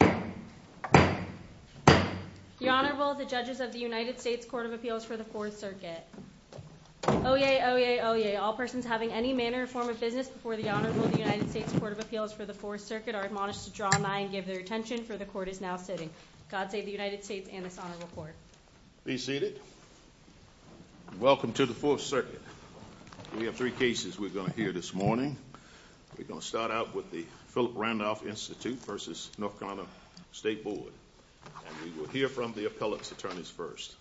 The Honorable, the Judges of the United States Court of Appeals for the Fourth Circuit. Oyez, oyez, oyez, all persons having any manner or form of business before the Honorable of the United States Court of Appeals for the Fourth Circuit are admonished to draw nigh and give their attention, for the Court is now sitting. God save the United States and this Honorable Court. Be seated. Welcome to the Fourth Circuit. We have three cases we're going to hear this morning. We're going to start out with the Philip Randolph Institute v. North Carolina State Board. And we will hear from the appellate's attorneys first.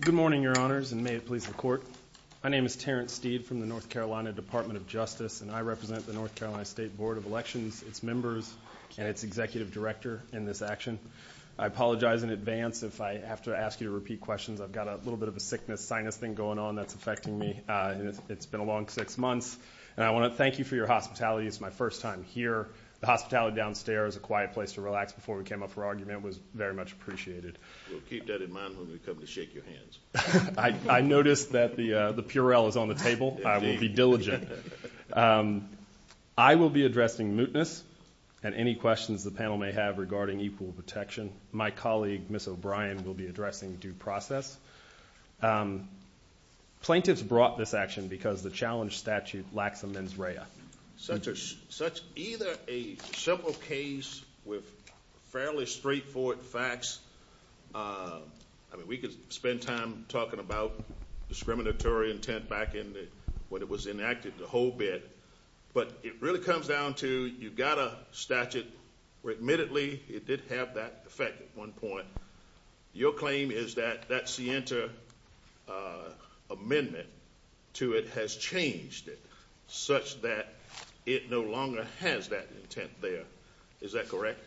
Good morning, Your Honors, and may it please the Court. My name is Terrence Steed from the North Carolina Department of Justice, and I represent the North Carolina State Board of Elections, its members, and its executive director in this action. I apologize in advance if I have to ask you to repeat questions. I've got a little bit of a sickness, sinus thing going on that's affecting me. It's been a long six months. And I want to thank you for your hospitality. It's my first time here. The hospitality downstairs, a quiet place to relax before we came up for argument, was very much appreciated. We'll keep that in mind when we come to shake your hands. I noticed that the Purell is on the table. I will be diligent. I will be addressing mootness and any questions the panel may have regarding equal protection. My colleague, Ms. O'Brien, will be addressing due process. Plaintiffs brought this action because the challenge statute lacks a mens rea. Such either a simple case with fairly straightforward facts. I mean, we could spend time talking about discriminatory intent back in when it was enacted, the whole bit. But it really comes down to you've got a statute where admittedly it did have that effect at one point. Your claim is that that Sienta amendment to it has changed it such that it no longer has that intent there. Is that correct?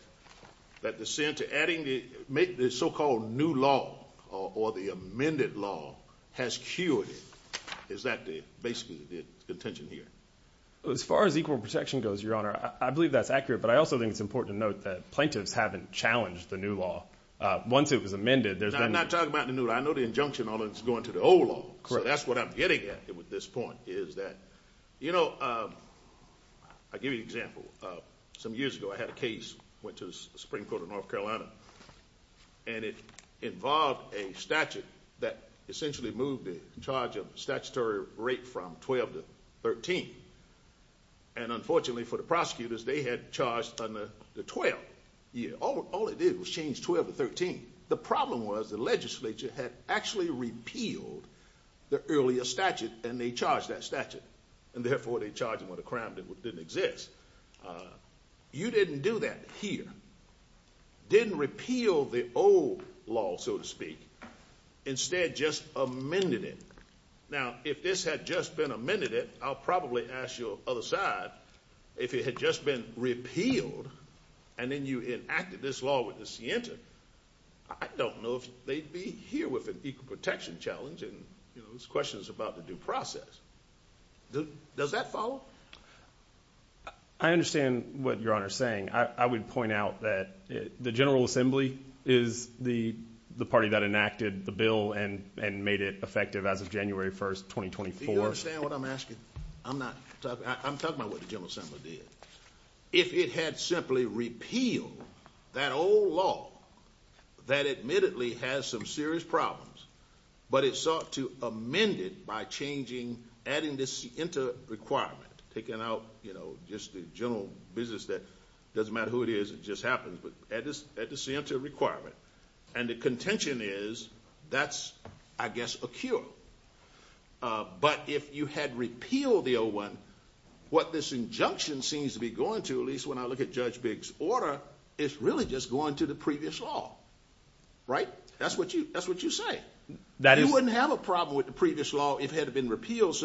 That the Sienta adding the so-called new law or the amended law has cured it. Is that basically the intention here? As far as equal protection goes, Your Honor, I believe that's accurate. But I also think it's important to note that plaintiffs haven't challenged the new law. Once it was amended, there's been. I'm not talking about the new law. I know the injunction on it is going to the old law. So that's what I'm getting at with this point is that, you know, I'll give you an example. Some years ago I had a case which was the Supreme Court of North Carolina. And it involved a statute that essentially moved the charge of statutory rape from 12 to 13. And unfortunately for the prosecutors, they had charged under the 12th year. All it did was change 12 to 13. The problem was the legislature had actually repealed the earlier statute, and they charged that statute. And therefore they charged them with a crime that didn't exist. You didn't do that here. Didn't repeal the old law, so to speak. Instead, just amended it. Now, if this had just been amended it, I'll probably ask your other side, if it had just been repealed and then you enacted this law with the scienti, I don't know if they'd be here with an equal protection challenge. And, you know, this question is about the due process. Does that follow? I understand what Your Honor is saying. I would point out that the General Assembly is the party that enacted the bill and made it effective as of January 1st, 2024. Do you understand what I'm asking? I'm talking about what the General Assembly did. If it had simply repealed that old law that admittedly has some serious problems, but it sought to amend it by changing, adding this into a requirement, taking out, you know, just the general business that doesn't matter who it is, it just happens, but add this into a requirement. And the contention is that's, I guess, a cure. But if you had repealed the old one, what this injunction seems to be going to, at least when I look at Judge Biggs' order, is really just going to the previous law. Right? That's what you say. You wouldn't have a problem with the previous law if it had been repealed.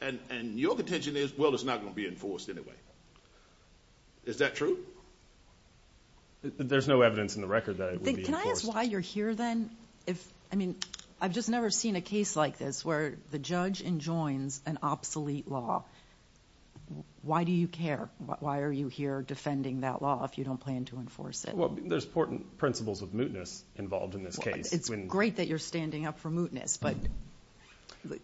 And your contention is, well, it's not going to be enforced anyway. Is that true? There's no evidence in the record that it would be enforced. Can I ask why you're here then? I mean, I've just never seen a case like this where the judge enjoins an obsolete law. Why do you care? Why are you here defending that law if you don't plan to enforce it? Well, there's important principles of mootness involved in this case. It's great that you're standing up for mootness, but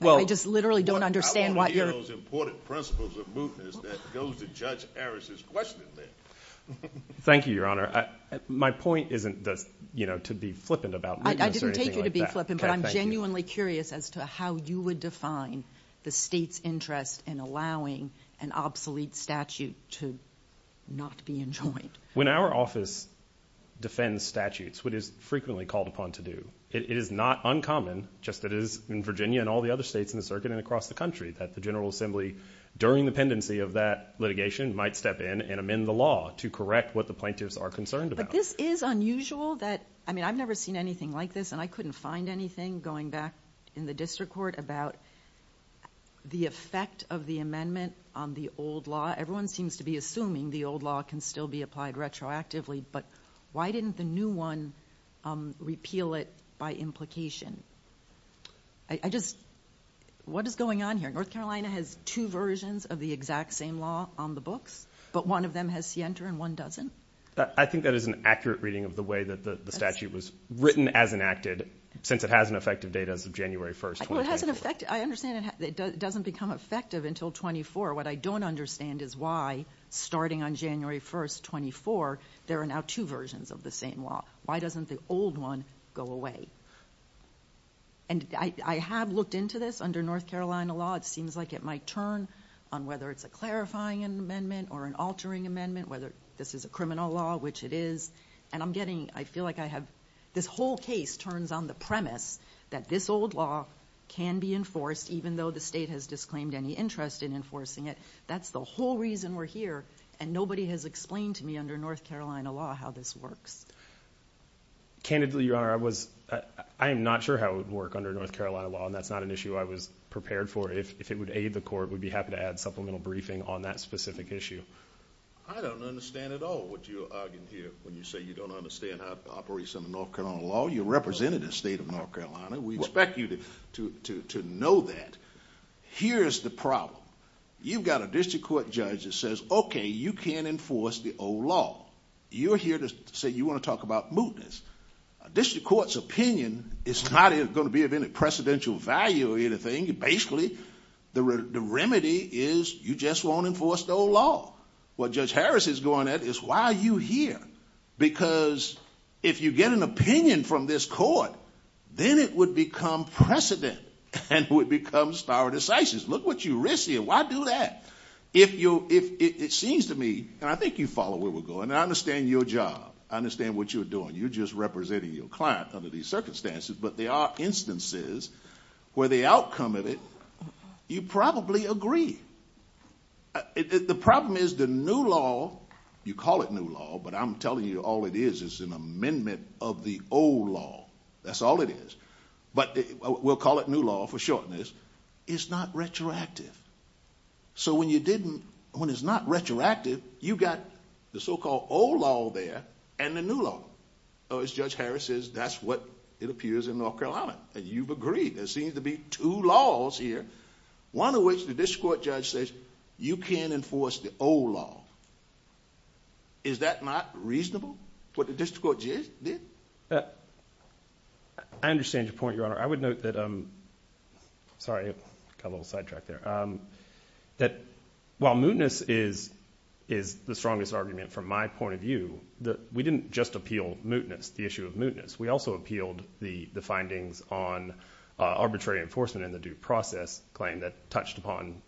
I just literally don't understand why you're— I want to hear those important principles of mootness that goes to Judge Harris' question then. Thank you, Your Honor. My point isn't to be flippant about mootness or anything like that. I didn't take you to be flippant, but I'm genuinely curious as to how you would define the state's interest in allowing an obsolete statute to not be enjoined. When our office defends statutes, what is frequently called upon to do, it is not uncommon, just as it is in Virginia and all the other states in the circuit and across the country, that the General Assembly, during the pendency of that litigation, might step in and amend the law to correct what the plaintiffs are concerned about. But this is unusual that—I mean, I've never seen anything like this, and I couldn't find anything going back in the district court about the effect of the amendment on the old law. Everyone seems to be assuming the old law can still be applied retroactively, but why didn't the new one repeal it by implication? I just—what is going on here? North Carolina has two versions of the exact same law on the books, but one of them has scienter and one doesn't? I think that is an accurate reading of the way that the statute was written as enacted, since it has an effective date as of January 1, 2010. I understand it doesn't become effective until 24. What I don't understand is why, starting on January 1, 24, there are now two versions of the same law. Why doesn't the old one go away? And I have looked into this under North Carolina law. It seems like it might turn on whether it's a clarifying amendment or an altering amendment, whether this is a criminal law, which it is, and I'm getting—I feel like I have— this whole case turns on the premise that this old law can be enforced, even though the state has disclaimed any interest in enforcing it. That's the whole reason we're here, and nobody has explained to me under North Carolina law how this works. Candidly, Your Honor, I am not sure how it would work under North Carolina law, and that's not an issue I was prepared for. If it would aid the court, we'd be happy to add supplemental briefing on that specific issue. I don't understand at all what you're arguing here. When you say you don't understand how it operates under North Carolina law, you're representing the state of North Carolina. We expect you to know that. Here's the problem. You've got a district court judge that says, okay, you can't enforce the old law. You're here to say you want to talk about mootness. A district court's opinion is not going to be of any precedential value or anything. Basically, the remedy is you just won't enforce the old law. What Judge Harris is going at is why are you here? Because if you get an opinion from this court, then it would become precedent and it would become stare decisis. Look what you risk here. Why do that? It seems to me, and I think you follow where we're going, and I understand your job. I understand what you're doing. You're just representing your client under these circumstances, but there are instances where the outcome of it you probably agree. The problem is the new law, you call it new law, but I'm telling you all it is is an amendment of the old law. That's all it is. But we'll call it new law for shortness. It's not retroactive. So when it's not retroactive, you've got the so-called old law there and the new law. As Judge Harris says, that's what it appears in North Carolina, and you've agreed. There seems to be two laws here, one of which the district court judge says you can't enforce the old law. Is that not reasonable, what the district court judge did? I understand your point, Your Honor. I would note that while mootness is the strongest argument from my point of view, we didn't just appeal mootness, the issue of mootness. We also appealed the findings on arbitrary enforcement and the due process claim that touched upon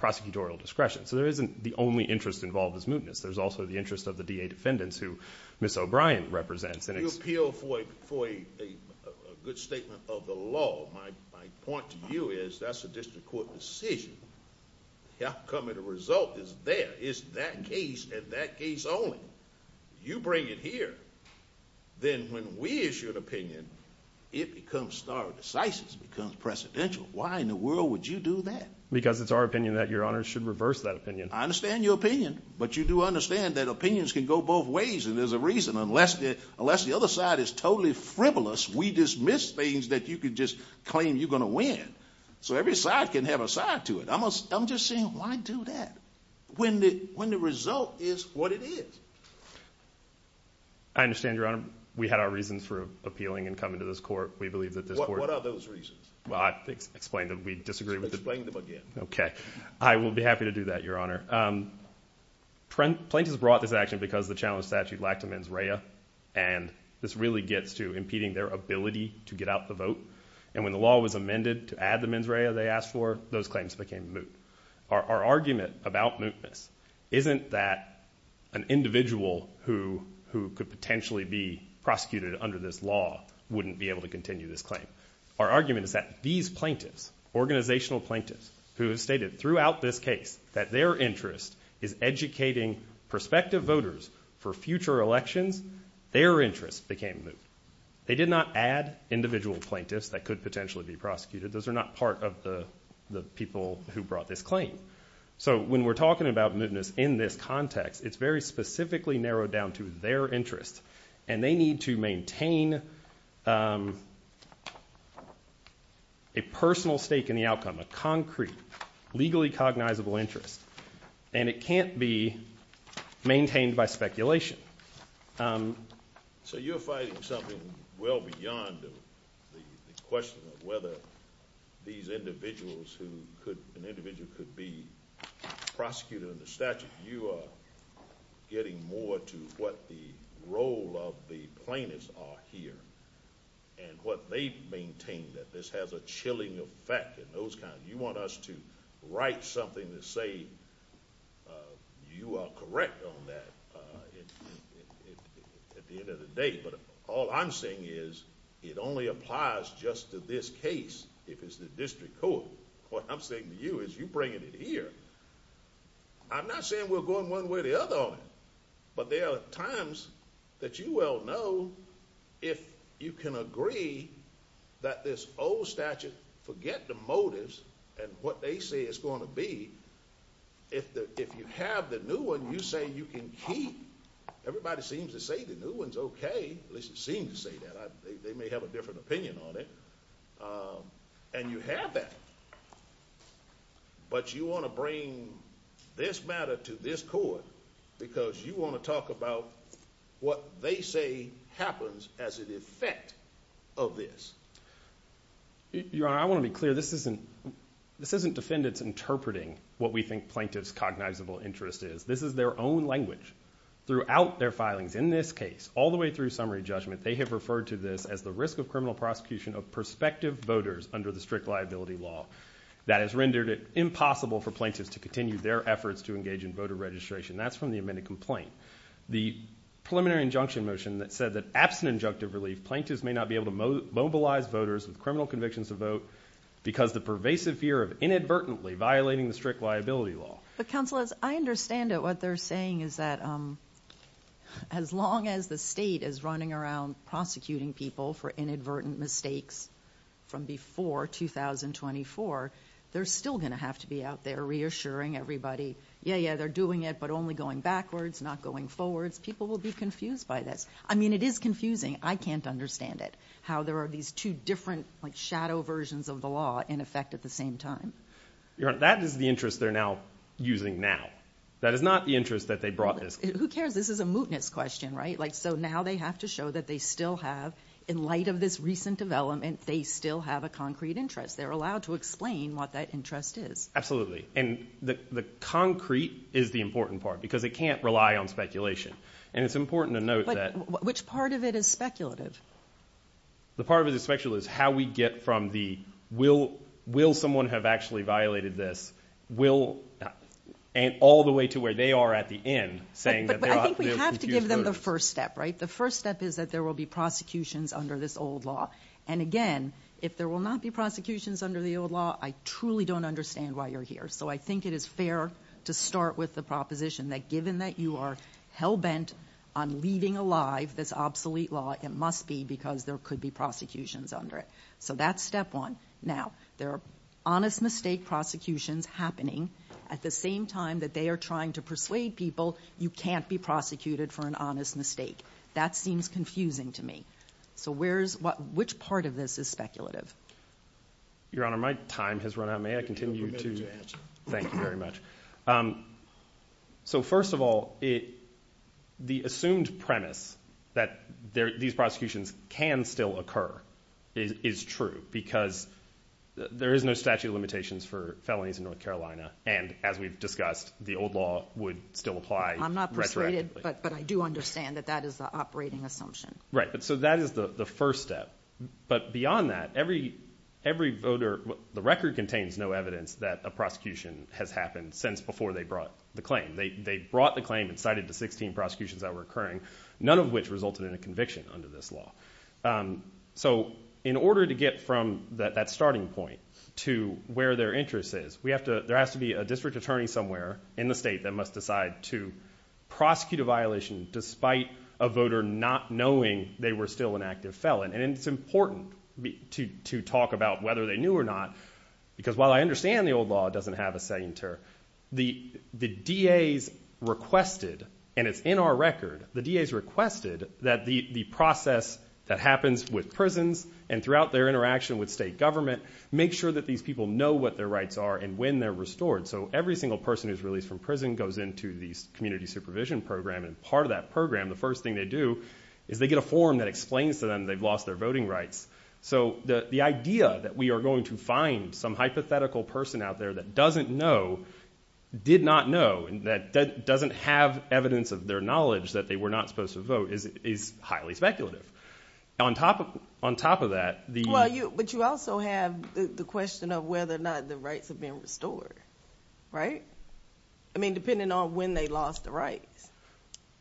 prosecutorial discretion. So there isn't the only interest involved as mootness. There's also the interest of the DA defendants who Ms. O'Brien represents. You appeal for a good statement of the law. My point to you is that's a district court decision. The outcome and the result is there. It's that case and that case only. You bring it here, then when we issue an opinion, it becomes stardecis. It becomes precedential. Why in the world would you do that? Because it's our opinion that Your Honor should reverse that opinion. I understand your opinion, but you do understand that opinions can go both ways, and there's a reason. Unless the other side is totally frivolous, we dismiss things that you could just claim you're going to win. So every side can have a side to it. I'm just saying why do that when the result is what it is? I understand, Your Honor. We had our reasons for appealing and coming to this court. What are those reasons? Explain them. We disagree with them. Explain them again. Okay. I will be happy to do that, Your Honor. Plaintiffs brought this action because the challenge statute lacked a mens rea, and this really gets to impeding their ability to get out the vote. And when the law was amended to add the mens rea they asked for, those claims became moot. Our argument about mootness isn't that an individual who could potentially be prosecuted under this law wouldn't be able to continue this claim. Our argument is that these plaintiffs, organizational plaintiffs, who stated throughout this case that their interest is educating prospective voters for future elections, their interest became moot. They did not add individual plaintiffs that could potentially be prosecuted. Those are not part of the people who brought this claim. So when we're talking about mootness in this context, it's very specifically narrowed down to their interest, and they need to maintain a personal stake in the outcome, a concrete, legally cognizable interest. And it can't be maintained by speculation. So you're fighting something well beyond the question of whether these individuals who could, an individual could be prosecuted under statute. You are getting more to what the role of the plaintiffs are here and what they maintain, that this has a chilling effect and those kinds. You want us to write something to say you are correct on that at the end of the day, but all I'm saying is it only applies just to this case if it's the district court. What I'm saying to you is you're bringing it here. I'm not saying we're going one way or the other on it, but there are times that you well know if you can agree that this old statute, forget the motives and what they say it's going to be, if you have the new one, you say you can keep. Everybody seems to say the new one's okay. At least it seems to say that. They may have a different opinion on it. And you have that. But you want to bring this matter to this court because you want to talk about what they say happens as an effect of this. Your Honor, I want to be clear. This isn't defendants interpreting what we think plaintiffs' cognizable interest is. This is their own language throughout their filings. In this case, all the way through summary judgment, they have referred to this as the risk of criminal prosecution of prospective voters under the strict liability law. That has rendered it impossible for plaintiffs to continue their efforts to engage in voter registration. That's from the amended complaint. The preliminary injunction motion that said that absent injunctive relief, plaintiffs may not be able to mobilize voters with criminal convictions to vote because the pervasive fear of inadvertently violating the strict liability law. But, counsel, as I understand it, what they're saying is that as long as the state is running around prosecuting people for inadvertent mistakes from before 2024, they're still going to have to be out there reassuring everybody, yeah, yeah, they're doing it, but only going backwards, not going forwards. People will be confused by this. I mean, it is confusing. I can't understand it, how there are these two different shadow versions of the law in effect at the same time. Your Honor, that is the interest they're now using now. That is not the interest that they brought this. Who cares? This is a mootness question, right? So now they have to show that they still have, in light of this recent development, they still have a concrete interest. They're allowed to explain what that interest is. Absolutely. And the concrete is the important part because it can't rely on speculation. And it's important to note that. But which part of it is speculative? The part of it that's speculative is how we get from the will someone have actually violated this, will all the way to where they are at the end saying that they're confused voters. But I think we have to give them the first step, right? The first step is that there will be prosecutions under this old law. And, again, if there will not be prosecutions under the old law, I truly don't understand why you're here. So I think it is fair to start with the proposition that, given that you are hell-bent on leaving alive this obsolete law, it must be because there could be prosecutions under it. So that's step one. Now, there are honest mistake prosecutions happening. At the same time that they are trying to persuade people, you can't be prosecuted for an honest mistake. That seems confusing to me. So which part of this is speculative? Your Honor, my time has run out. May I continue to? Thank you very much. So, first of all, the assumed premise that these prosecutions can still occur is true because there is no statute of limitations for felonies in North Carolina. And, as we've discussed, the old law would still apply retroactively. I'm not persuaded, but I do understand that that is the operating assumption. Right. So that is the first step. But beyond that, every voter, the record contains no evidence that a prosecution has happened since before they brought the claim. They brought the claim and cited the 16 prosecutions that were occurring, none of which resulted in a conviction under this law. So in order to get from that starting point to where their interest is, there has to be a district attorney somewhere in the state that must decide to prosecute a violation despite a voter not knowing they were still an active felon. And it's important to talk about whether they knew or not because, while I understand the old law doesn't have a sainter, the DAs requested, and it's in our record, the DAs requested that the process that happens with prisons and throughout their interaction with state government make sure that these people know what their rights are and when they're restored. So every single person who's released from prison goes into the community supervision program. And part of that program, the first thing they do, is they get a form that explains to them they've lost their voting rights. So the idea that we are going to find some hypothetical person out there that doesn't know, did not know, that doesn't have evidence of their knowledge that they were not supposed to vote is highly speculative. On top of that, the- Well, but you also have the question of whether or not the rights have been restored, right? I mean, depending on when they lost the rights.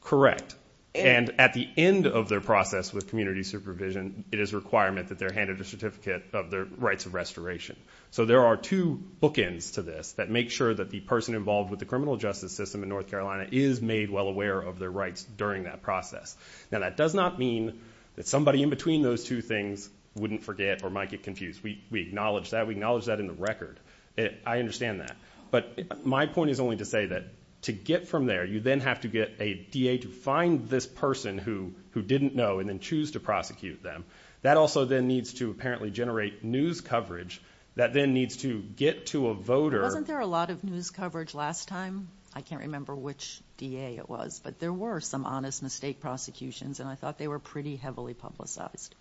Correct. And at the end of their process with community supervision, it is a requirement that they're handed a certificate of their rights of restoration. So there are two bookends to this that make sure that the person involved with the criminal justice system in North Carolina is made well aware of their rights during that process. Now, that does not mean that somebody in between those two things wouldn't forget or might get confused. We acknowledge that. We acknowledge that in the record. I understand that. But my point is only to say that to get from there, you then have to get a DA to find this person who didn't know and then choose to prosecute them. That also then needs to apparently generate news coverage. That then needs to get to a voter. Wasn't there a lot of news coverage last time? I can't remember which DA it was, but there were some honest mistake prosecutions, and I thought they were pretty heavily publicized.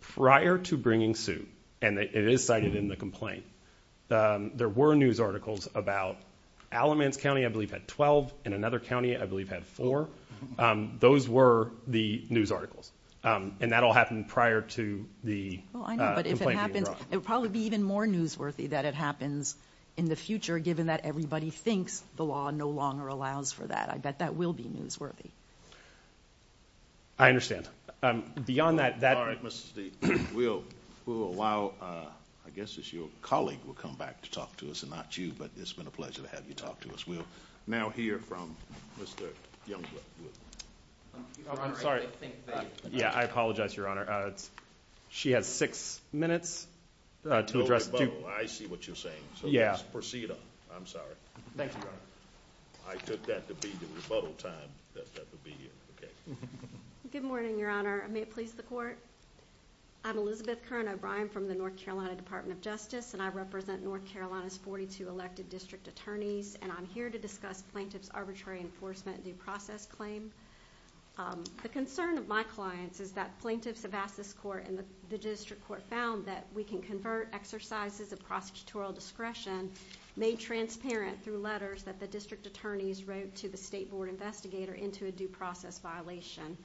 Prior to bringing suit, and it is cited in the complaint, there were news articles about Alamance County, I believe, had 12, and another county, I believe, had four. Those were the news articles. And that all happened prior to the complaint being brought. I know, but if it happens, it would probably be even more newsworthy that it happens in the future, given that everybody thinks the law no longer allows for that. I bet that will be newsworthy. I understand. Beyond that, that— All right, Mr. Steele. Will, for a while, I guess it's your colleague will come back to talk to us and not you, but it's been a pleasure to have you talk to us. And we'll now hear from Mr. Youngblood. I'm sorry. Yeah, I apologize, Your Honor. She has six minutes to address— I see what you're saying, so let's proceed on. I'm sorry. Thank you, Your Honor. I took that to be the rebuttal time that that would be in. Good morning, Your Honor. May it please the Court. I'm Elizabeth Kern O'Brien from the North Carolina Department of Justice, and I represent North Carolina's 42 elected district attorneys, and I'm here to discuss plaintiff's arbitrary enforcement due process claim. The concern of my clients is that plaintiffs have asked this court and the district court found that we can convert exercises of prosecutorial discretion made transparent through letters that the district attorneys wrote to the state board investigator into a due process violation.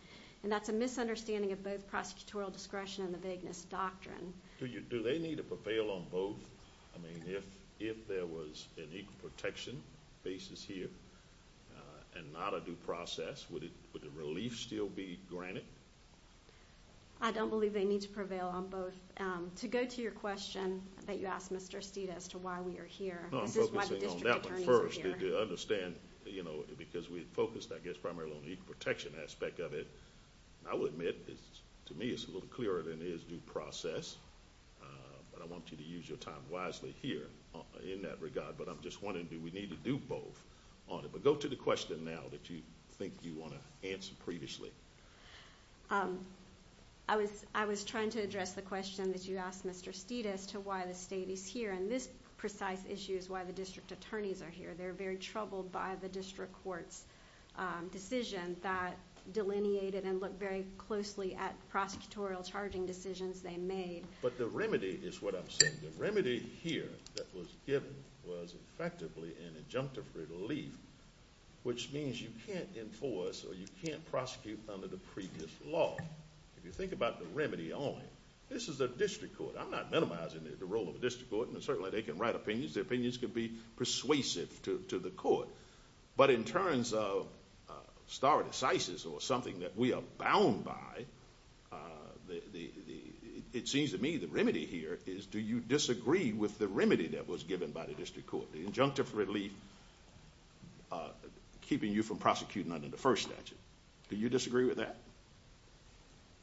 And that's a misunderstanding of both prosecutorial discretion and the vagueness doctrine. Do they need to prevail on both? I mean, if there was an equal protection basis here and not a due process, would the relief still be granted? I don't believe they need to prevail on both. To go to your question that you asked, Mr. Estita, as to why we are here, this is why the district attorneys are here. No, I'm focusing on that one first to understand, you know, because we focused, I guess, primarily on the equal protection aspect of it. I will admit to me it's a little clearer than it is due process, but I want you to use your time wisely here in that regard. But I'm just wondering, do we need to do both on it? But go to the question now that you think you want to answer previously. I was trying to address the question that you asked, Mr. Estita, as to why the state is here. And this precise issue is why the district attorneys are here. They're very troubled by the district court's decision that delineated and looked very closely at prosecutorial charging decisions they made. But the remedy is what I'm saying. The remedy here that was given was effectively an injunctive relief, which means you can't enforce or you can't prosecute under the previous law. If you think about the remedy only, this is a district court. I'm not minimizing the role of a district court, and certainly they can write opinions. Their opinions can be persuasive to the court. But in terms of stare decisis or something that we are bound by, it seems to me the remedy here is do you disagree with the remedy that was given by the district court? The injunctive relief keeping you from prosecuting under the first statute. Do you disagree with that?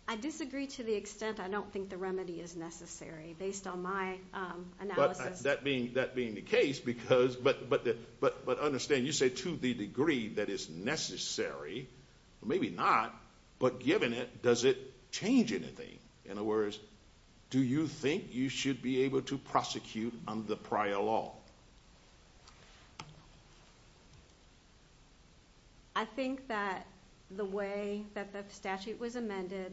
I disagree to the extent I don't think the remedy is necessary, based on my analysis. That being the case, but understand, you say to the degree that it's necessary. Maybe not, but given it, does it change anything? In other words, do you think you should be able to prosecute under prior law? I think that the way that the statute was amended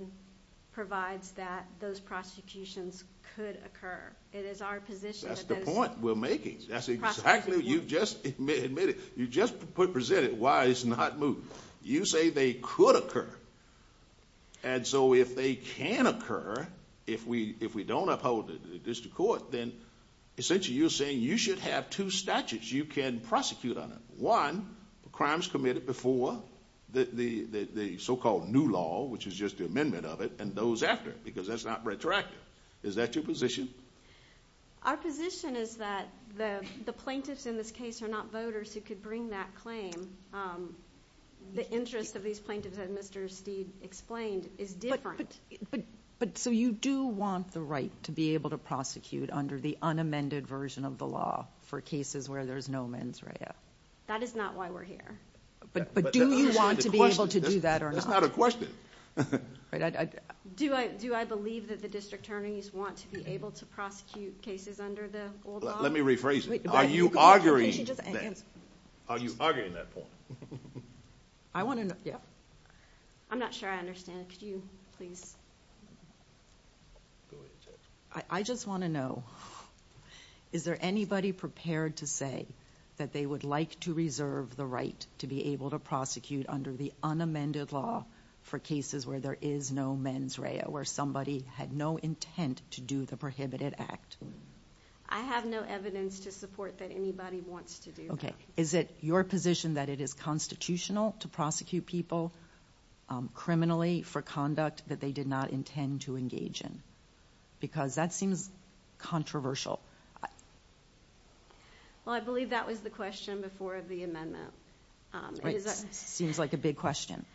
provides that those prosecutions could occur. That's the point we're making. That's exactly what you just admitted. You just presented why it's not moved. You say they could occur, and so if they can occur, if we don't uphold the district court, then essentially you're saying you should have two statutes you can prosecute under. One, the crimes committed before the so-called new law, which is just the amendment of it, and those after it, because that's not retroactive. Is that your position? Our position is that the plaintiffs in this case are not voters who could bring that claim. The interest of these plaintiffs, as Mr. Steed explained, is different. But so you do want the right to be able to prosecute under the unamended version of the law for cases where there's no mens rea. That is not why we're here. But do you want to be able to do that or not? That's not a question. Do I believe that the district attorneys want to be able to prosecute cases under the old law? Let me rephrase it. Are you arguing that? Are you arguing that point? I want to know. I'm not sure I understand. Could you please? I just want to know, is there anybody prepared to say that they would like to reserve the right to be able to prosecute under the unamended law for cases where there is no mens rea, where somebody had no intent to do the prohibited act? I have no evidence to support that anybody wants to do that. Okay. Is it your position that it is constitutional to prosecute people criminally for conduct that they did not intend to engage in? Because that seems controversial. Well, I believe that was the question before the amendment. It seems like a big question.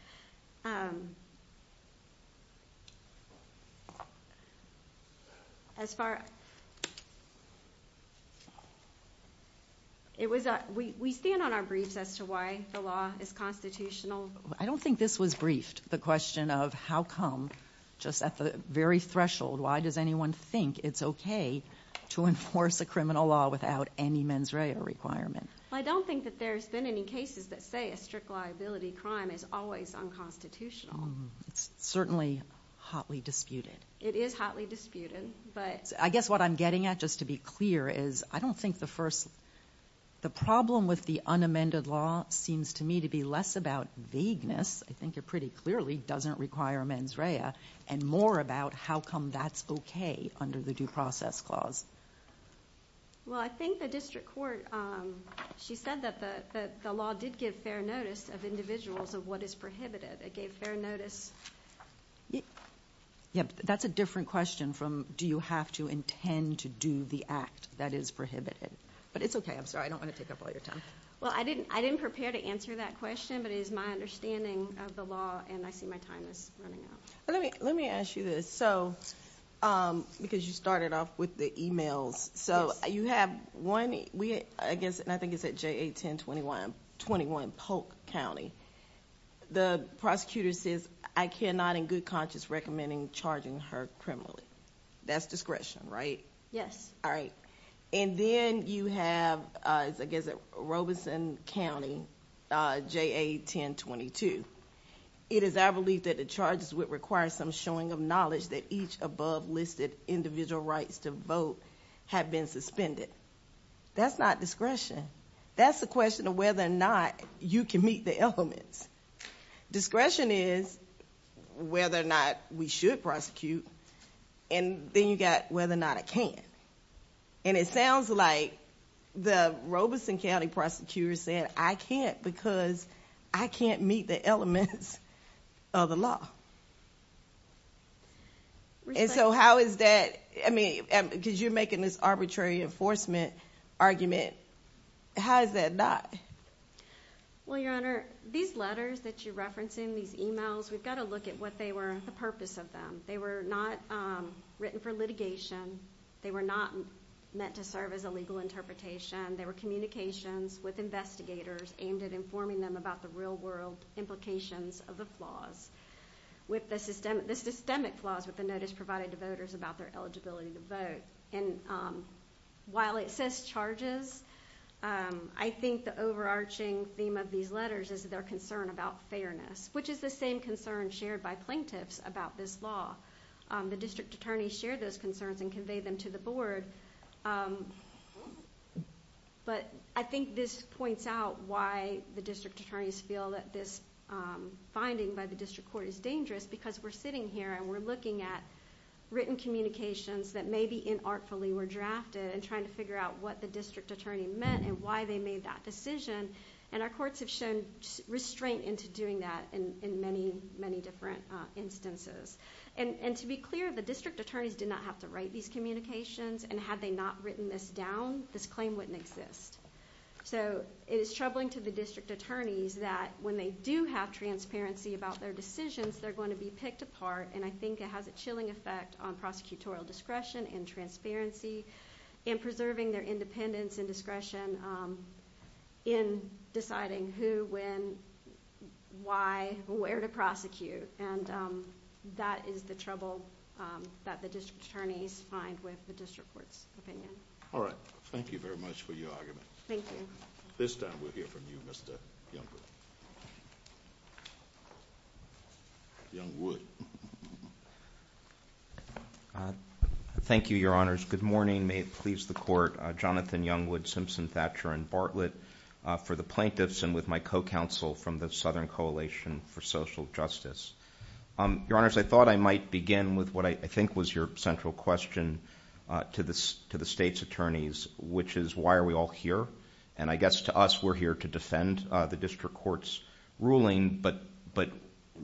We stand on our briefs as to why the law is constitutional. I don't think this was briefed, the question of how come just at the very threshold, why does anyone think it's okay to enforce a criminal law without any mens rea requirement? Well, I don't think that there's been any cases that say a strict liability crime is always unconstitutional. It's certainly hotly disputed. It is hotly disputed. I guess what I'm getting at, just to be clear, is I don't think the first, the problem with the unamended law seems to me to be less about vagueness, I think it pretty clearly doesn't require mens rea, and more about how come that's okay under the due process clause. Well, I think the district court, she said that the law did give fair notice of individuals of what is prohibited. It gave fair notice. Yeah, but that's a different question from do you have to intend to do the act that is prohibited. But it's okay, I'm sorry, I don't want to take up all your time. Well, I didn't prepare to answer that question, but it is my understanding of the law, and I see my time is running out. Let me ask you this. So, because you started off with the emails, so you have one, I guess, and I think it's at JA 1021, 21 Polk County. The prosecutor says, I cannot in good conscience recommending charging her criminally. That's discretion, right? Yes. All right. And then you have, I guess at Robeson County, JA 1022. It is our belief that the charges would require some showing of knowledge that each above listed individual rights to vote have been suspended. That's not discretion. That's the question of whether or not you can meet the elements. Discretion is whether or not we should prosecute, and then you got whether or not I can. And it sounds like the Robeson County prosecutor said, I can't because I can't meet the elements of the law. And so how is that? I mean, because you're making this arbitrary enforcement argument. How is that not? Well, Your Honor, these letters that you're referencing, these emails, we've got to look at what they were, the purpose of them. They were not written for litigation. They were not meant to serve as a legal interpretation. They were communications with investigators aimed at informing them about the real-world implications of the flaws. The systemic flaws with the notice provided to voters about their eligibility to vote. And while it says charges, I think the overarching theme of these letters is their concern about fairness, which is the same concern shared by plaintiffs about this law. The district attorneys share those concerns and convey them to the board. But I think this points out why the district attorneys feel that this finding by the district court is dangerous, because we're sitting here and we're looking at written communications that maybe inartfully were drafted and trying to figure out what the district attorney meant and why they made that decision. And our courts have shown restraint into doing that in many, many different instances. And to be clear, the district attorneys did not have to write these communications, and had they not written this down, this claim wouldn't exist. So it is troubling to the district attorneys that when they do have transparency about their decisions, they're going to be picked apart, and I think it has a chilling effect on prosecutorial discretion and transparency and preserving their independence and discretion in deciding who, when, why, where to prosecute. And that is the trouble that the district attorneys find with the district court's opinion. All right. Thank you very much for your argument. Thank you. This time we'll hear from you, Mr. Youngwood. Youngwood. Thank you, Your Honors. Good morning. May it please the Court, Jonathan Youngwood, Simpson, Thatcher, and Bartlett, for the plaintiffs and with my co-counsel from the Southern Coalition for Social Justice. Your Honors, I thought I might begin with what I think was your central question to the state's attorneys, which is, why are we all here? And I guess to us, we're here to defend the district court's ruling, but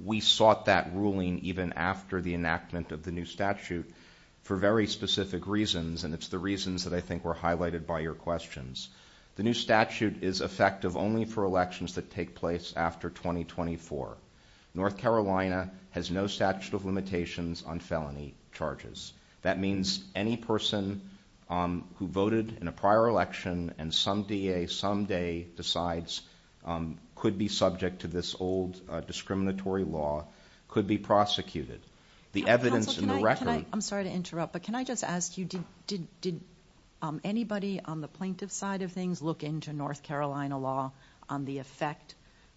we sought that ruling even after the enactment of the new statute for very specific reasons, and it's the reasons that I think were highlighted by your questions. The new statute is effective only for elections that take place after 2024. North Carolina has no statute of limitations on felony charges. That means any person who voted in a prior election and some day decides could be subject to this old discriminatory law could be prosecuted. The evidence in the record— Counsel, can I—I'm sorry to interrupt, but can I just ask you, did anybody on the plaintiff's side of things look into North Carolina law on the effect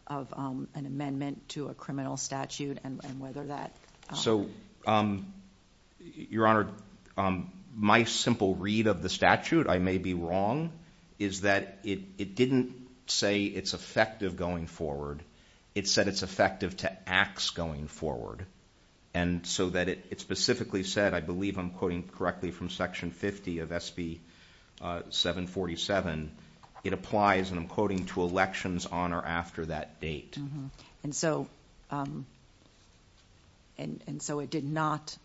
of an amendment to a criminal statute and whether that— So, Your Honor, my simple read of the statute, I may be wrong, is that it didn't say it's effective going forward. It said it's effective to acts going forward, and so that it specifically said, I believe I'm quoting correctly from Section 50 of SB 747, it applies, and I'm quoting, to elections on or after that date. And so it did not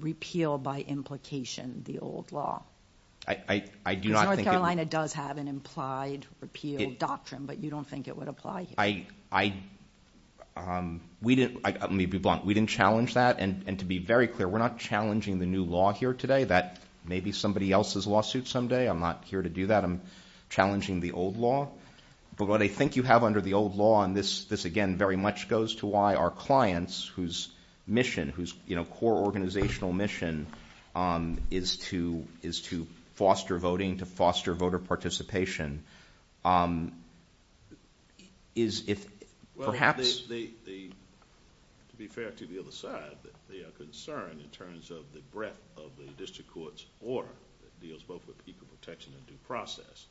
repeal by implication the old law? I do not think it— Because North Carolina does have an implied repeal doctrine, but you don't think it would apply here? Let me be blunt. We didn't challenge that, and to be very clear, we're not challenging the new law here today that may be somebody else's lawsuit someday. I'm not here to do that. I'm challenging the old law. But what I think you have under the old law, and this, again, very much goes to why our clients, whose mission, whose core organizational mission is to foster voting, to foster voter participation, is if perhaps— Well, to be fair to the other side, they are concerned in terms of the breadth of the district court's order that deals both with equal protection and due process.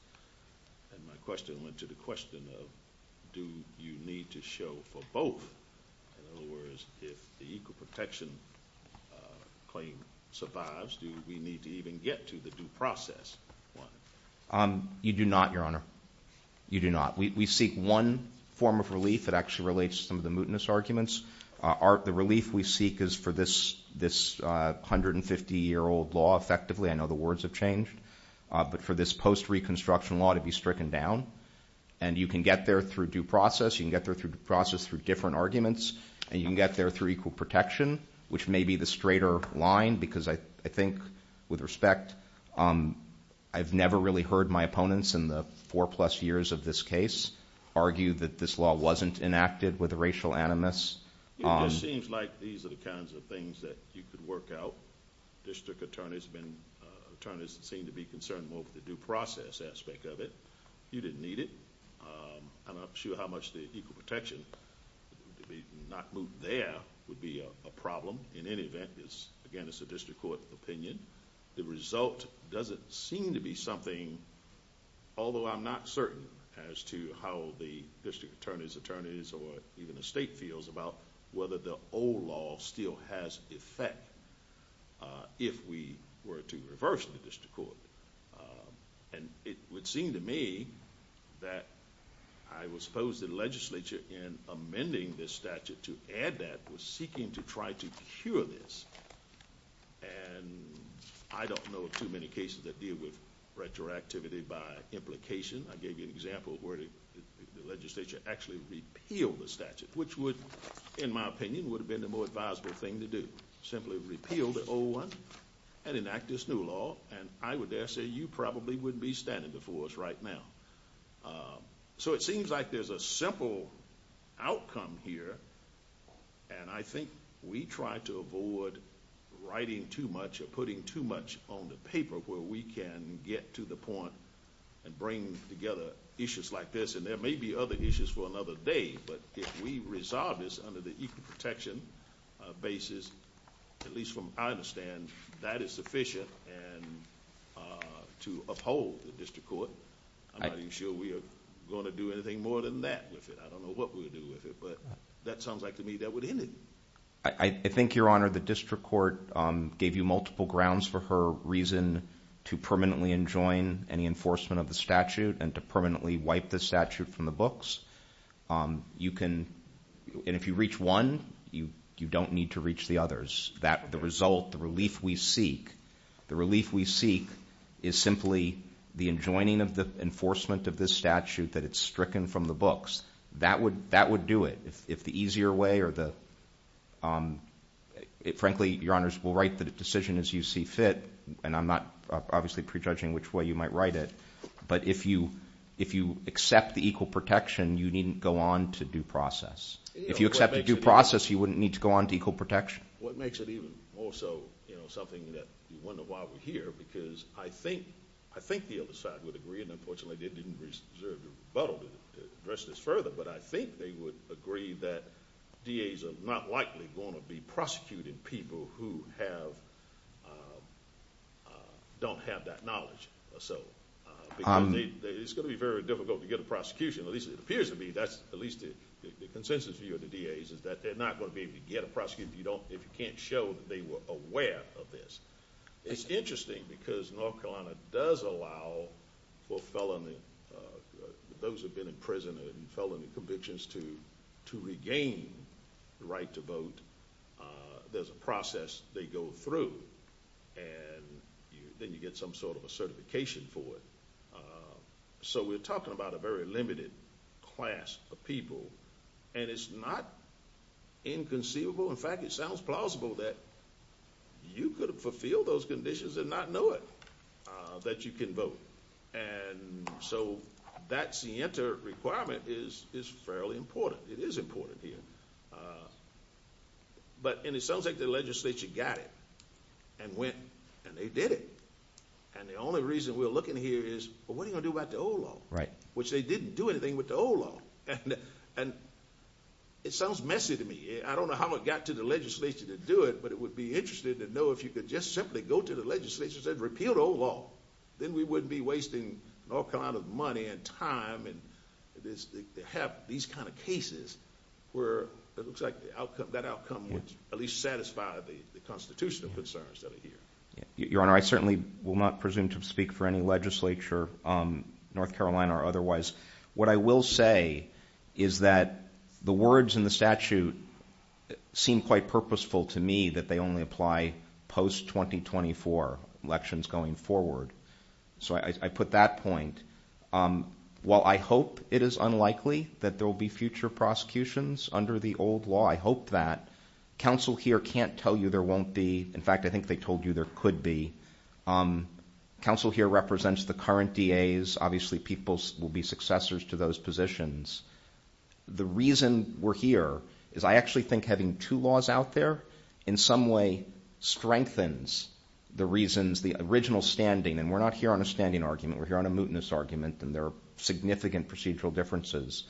And my question went to the question of do you need to show for both? In other words, if the equal protection claim survives, do we need to even get to the due process one? You do not, Your Honor. You do not. We seek one form of relief that actually relates to some of the mootness arguments. The relief we seek is for this 150-year-old law, effectively. I know the words have changed. But for this post-reconstruction law to be stricken down. And you can get there through due process. You can get there through due process through different arguments. And you can get there through equal protection, which may be the straighter line because I think, with respect, I've never really heard my opponents in the four-plus years of this case argue that this law wasn't enacted with a racial animus. It just seems like these are the kinds of things that you could work out. District attorneys seem to be concerned more with the due process aspect of it. You didn't need it. I'm not sure how much the equal protection, to not move there would be a problem. In any event, again, it's a district court opinion. The result doesn't seem to be something, although I'm not certain as to how the district attorneys, attorneys, or even the state feels about whether the old law still has effect if we were to reverse the district court. And it would seem to me that I would suppose the legislature, in amending this statute to add that, was seeking to try to cure this. And I don't know of too many cases that deal with retroactivity by implication. I gave you an example where the legislature actually repealed the statute, which would, in my opinion, would have been the more advisable thing to do, simply repeal the old one and enact this new law. And I would dare say you probably wouldn't be standing before us right now. So it seems like there's a simple outcome here, and I think we try to avoid writing too much or putting too much on the paper where we can get to the point and bring together issues like this. And there may be other issues for another day, but if we resolve this under the equal protection basis, at least from what I understand, that is sufficient to uphold the district court. I'm not even sure we are going to do anything more than that with it. I don't know what we would do with it, but that sounds like to me that would end it. I think, Your Honor, the district court gave you multiple grounds for her reason to permanently enjoin any enforcement of the statute and to permanently wipe the statute from the books. And if you reach one, you don't need to reach the others. The result, the relief we seek, the relief we seek is simply the enjoining of the enforcement of this statute that it's stricken from the books. That would do it. Frankly, Your Honors, we'll write the decision as you see fit, and I'm not obviously prejudging which way you might write it, but if you accept the equal protection, you needn't go on to due process. If you accept the due process, you wouldn't need to go on to equal protection. What makes it even more so, you know, something that you wonder why we're here, because I think the other side would agree, and unfortunately they didn't reserve the rebuttal to address this further, but I think they would agree that DAs are not likely going to be prosecuting people who don't have that knowledge or so, because it's going to be very difficult to get a prosecution, at least it appears to be. That's at least the consensus view of the DAs, is that they're not going to be able to get a prosecution if you can't show that they were aware of this. It's interesting, because North Carolina does allow for felony, those who have been in prison and felony convictions, to regain the right to vote. There's a process they go through, and then you get some sort of a certification for it. So we're talking about a very limited class of people, and it's not inconceivable, in fact it sounds plausible, that you could fulfill those conditions and not know it, that you can vote. And so that SIENTA requirement is fairly important. It is important here. But it sounds like the legislature got it and went and they did it. And the only reason we're looking here is, well, what are you going to do about the old law, which they didn't do anything with the old law. And it sounds messy to me. I don't know how it got to the legislature to do it, but it would be interesting to know if you could just simply go to the legislature and say repeal the old law, then we wouldn't be wasting North Carolina's money and time and have these kind of cases where it looks like that outcome would at least satisfy the constitutional concerns that are here. Your Honor, I certainly will not presume to speak for any legislature, North Carolina or otherwise. What I will say is that the words in the statute seem quite purposeful to me, that they only apply post-2024 elections going forward. So I put that point. While I hope it is unlikely that there will be future prosecutions under the old law, I hope that. Counsel here can't tell you there won't be. In fact, I think they told you there could be. Counsel here represents the current DAs. Obviously, people will be successors to those positions. The reason we're here is I actually think having two laws out there in some way strengthens the reasons, the original standing, and we're not here on a standing argument, we're here on a mutinous argument, and there are significant procedural differences,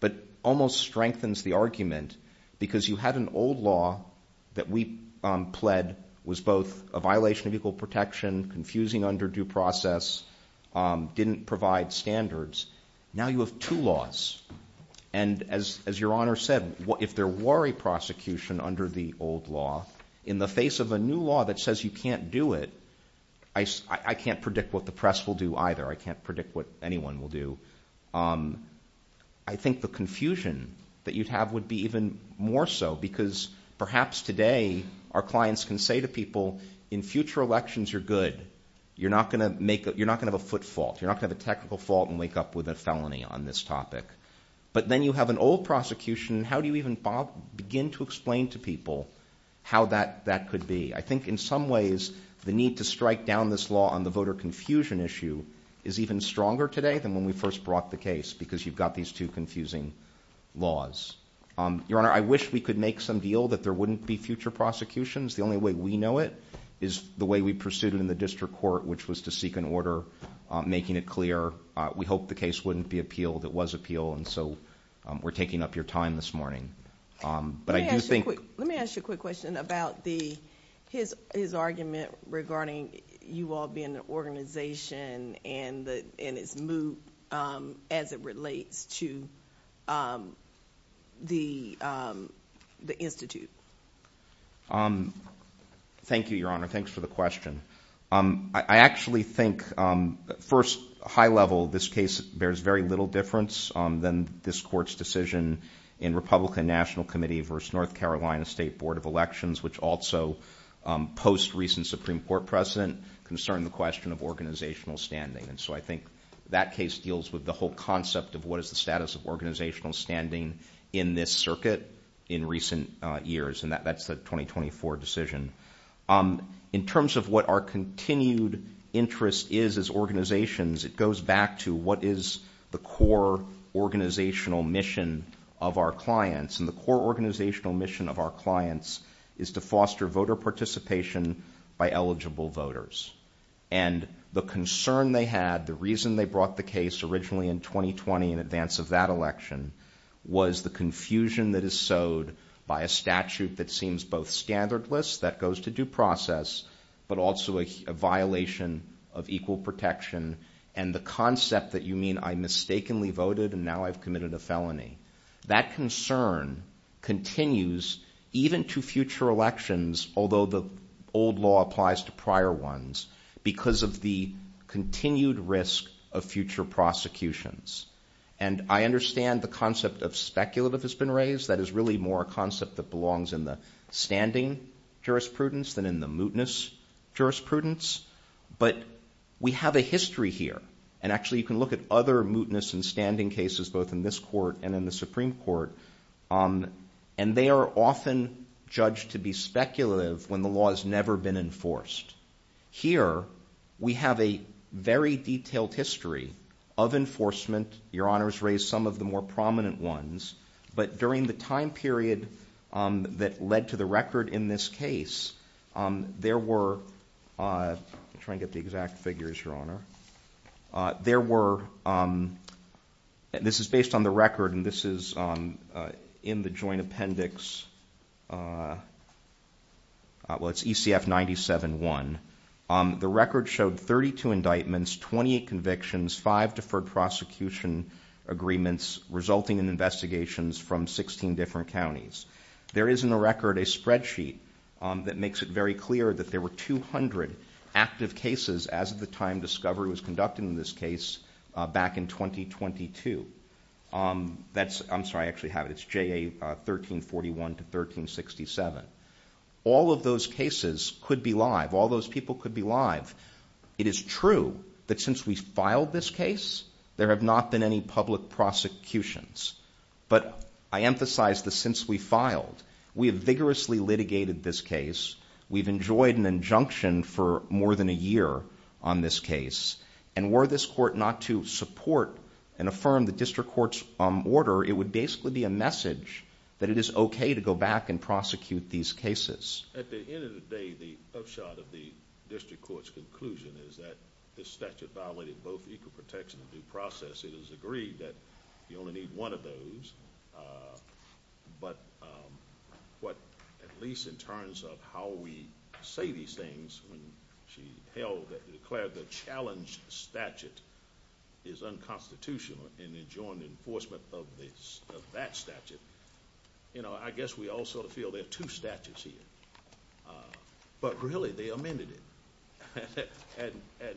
but almost strengthens the argument because you had an old law that we pled was both a violation of equal protection, confusing under due process, didn't provide standards. Now you have two laws, and as your Honor said, if there were a prosecution under the old law, in the face of a new law that says you can't do it, I can't predict what the press will do either. I can't predict what anyone will do. I think the confusion that you'd have would be even more so because perhaps today our clients can say to people, in future elections you're good. You're not going to have a foot fault. You're not going to have a technical fault and wake up with a felony on this topic. But then you have an old prosecution, and how do you even begin to explain to people how that could be? I think in some ways the need to strike down this law on the voter confusion issue is even stronger today than when we first brought the case because you've got these two confusing laws. Your Honor, I wish we could make some deal that there wouldn't be future prosecutions. The only way we know it is the way we pursued it in the district court, which was to seek an order, making it clear. We hope the case wouldn't be appealed. It was appealed, and so we're taking up your time this morning. Let me ask you a quick question about his argument regarding you all being an organization and its move as it relates to the institute. Thank you, Your Honor. Thanks for the question. I actually think first, high level, this case bears very little difference than this court's decision in Republican National Committee versus North Carolina State Board of Elections, which also post-recent Supreme Court precedent concerned the question of organizational standing. So I think that case deals with the whole concept of what is the status of organizational standing in this circuit in recent years, and that's the 2024 decision. In terms of what our continued interest is as organizations, it goes back to what is the core organizational mission of our clients, and the core organizational mission of our clients is to foster voter participation by eligible voters. And the concern they had, the reason they brought the case originally in 2020, in advance of that election, was the confusion that is sowed by a statute that seems both standardless, that goes to due process, but also a violation of equal protection, and the concept that you mean I mistakenly voted and now I've committed a felony. That concern continues even to future elections, although the old law applies to prior ones, because of the continued risk of future prosecutions. And I understand the concept of speculative has been raised. That is really more a concept that belongs in the standing jurisprudence than in the mootness jurisprudence. But we have a history here, and actually you can look at other mootness and standing cases, both in this court and in the Supreme Court, and they are often judged to be speculative when the law has never been enforced. Here we have a very detailed history of enforcement. Your Honor has raised some of the more prominent ones. But during the time period that led to the record in this case, there were – I'm trying to get the exact figures, Your Honor. There were – this is based on the record, and this is in the joint appendix. Well, it's ECF 97-1. The record showed 32 indictments, 28 convictions, five deferred prosecution agreements resulting in investigations from 16 different counties. There is in the record a spreadsheet that makes it very clear that there were 200 active cases as of the time discovery was conducted in this case back in 2022. That's – I'm sorry, I actually have it. It's JA 1341 to 1367. All of those cases could be live. All those people could be live. It is true that since we filed this case, there have not been any public prosecutions. But I emphasize the since we filed. We have vigorously litigated this case. We've enjoyed an injunction for more than a year on this case. And were this court not to support and affirm the district court's order, it would basically be a message that it is okay to go back and prosecute these cases. At the end of the day, the upshot of the district court's conclusion is that this statute violated both equal protection and due process. It is agreed that you only need one of those. But at least in terms of how we say these things when she held that declared the challenge statute is unconstitutional and enjoined enforcement of that statute, I guess we all sort of feel there are two statutes here. But really, they amended it. And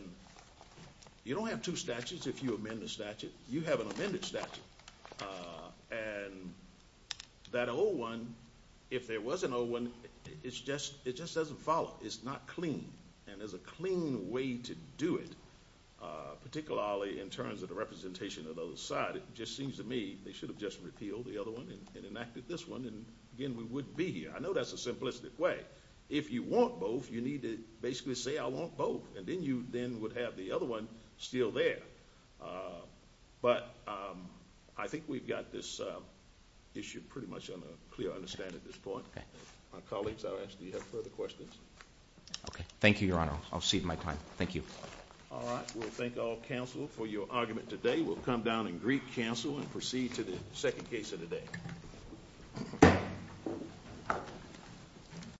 you don't have two statutes if you amend the statute. You have an amended statute. And that old one, if there was an old one, it just doesn't follow. It's not clean. And there's a clean way to do it, particularly in terms of the representation of the other side. It just seems to me they should have just repealed the other one and enacted this one, and, again, we wouldn't be here. I know that's a simplistic way. If you want both, you need to basically say I want both, and then you then would have the other one still there. But I think we've got this issue pretty much on a clear understanding at this point. My colleagues, I'll ask if you have further questions. Okay. Thank you, Your Honor. I'll cede my time. Thank you. All right. We'll thank all counsel for your argument today. We'll come down and greet counsel and proceed to the second case of the day.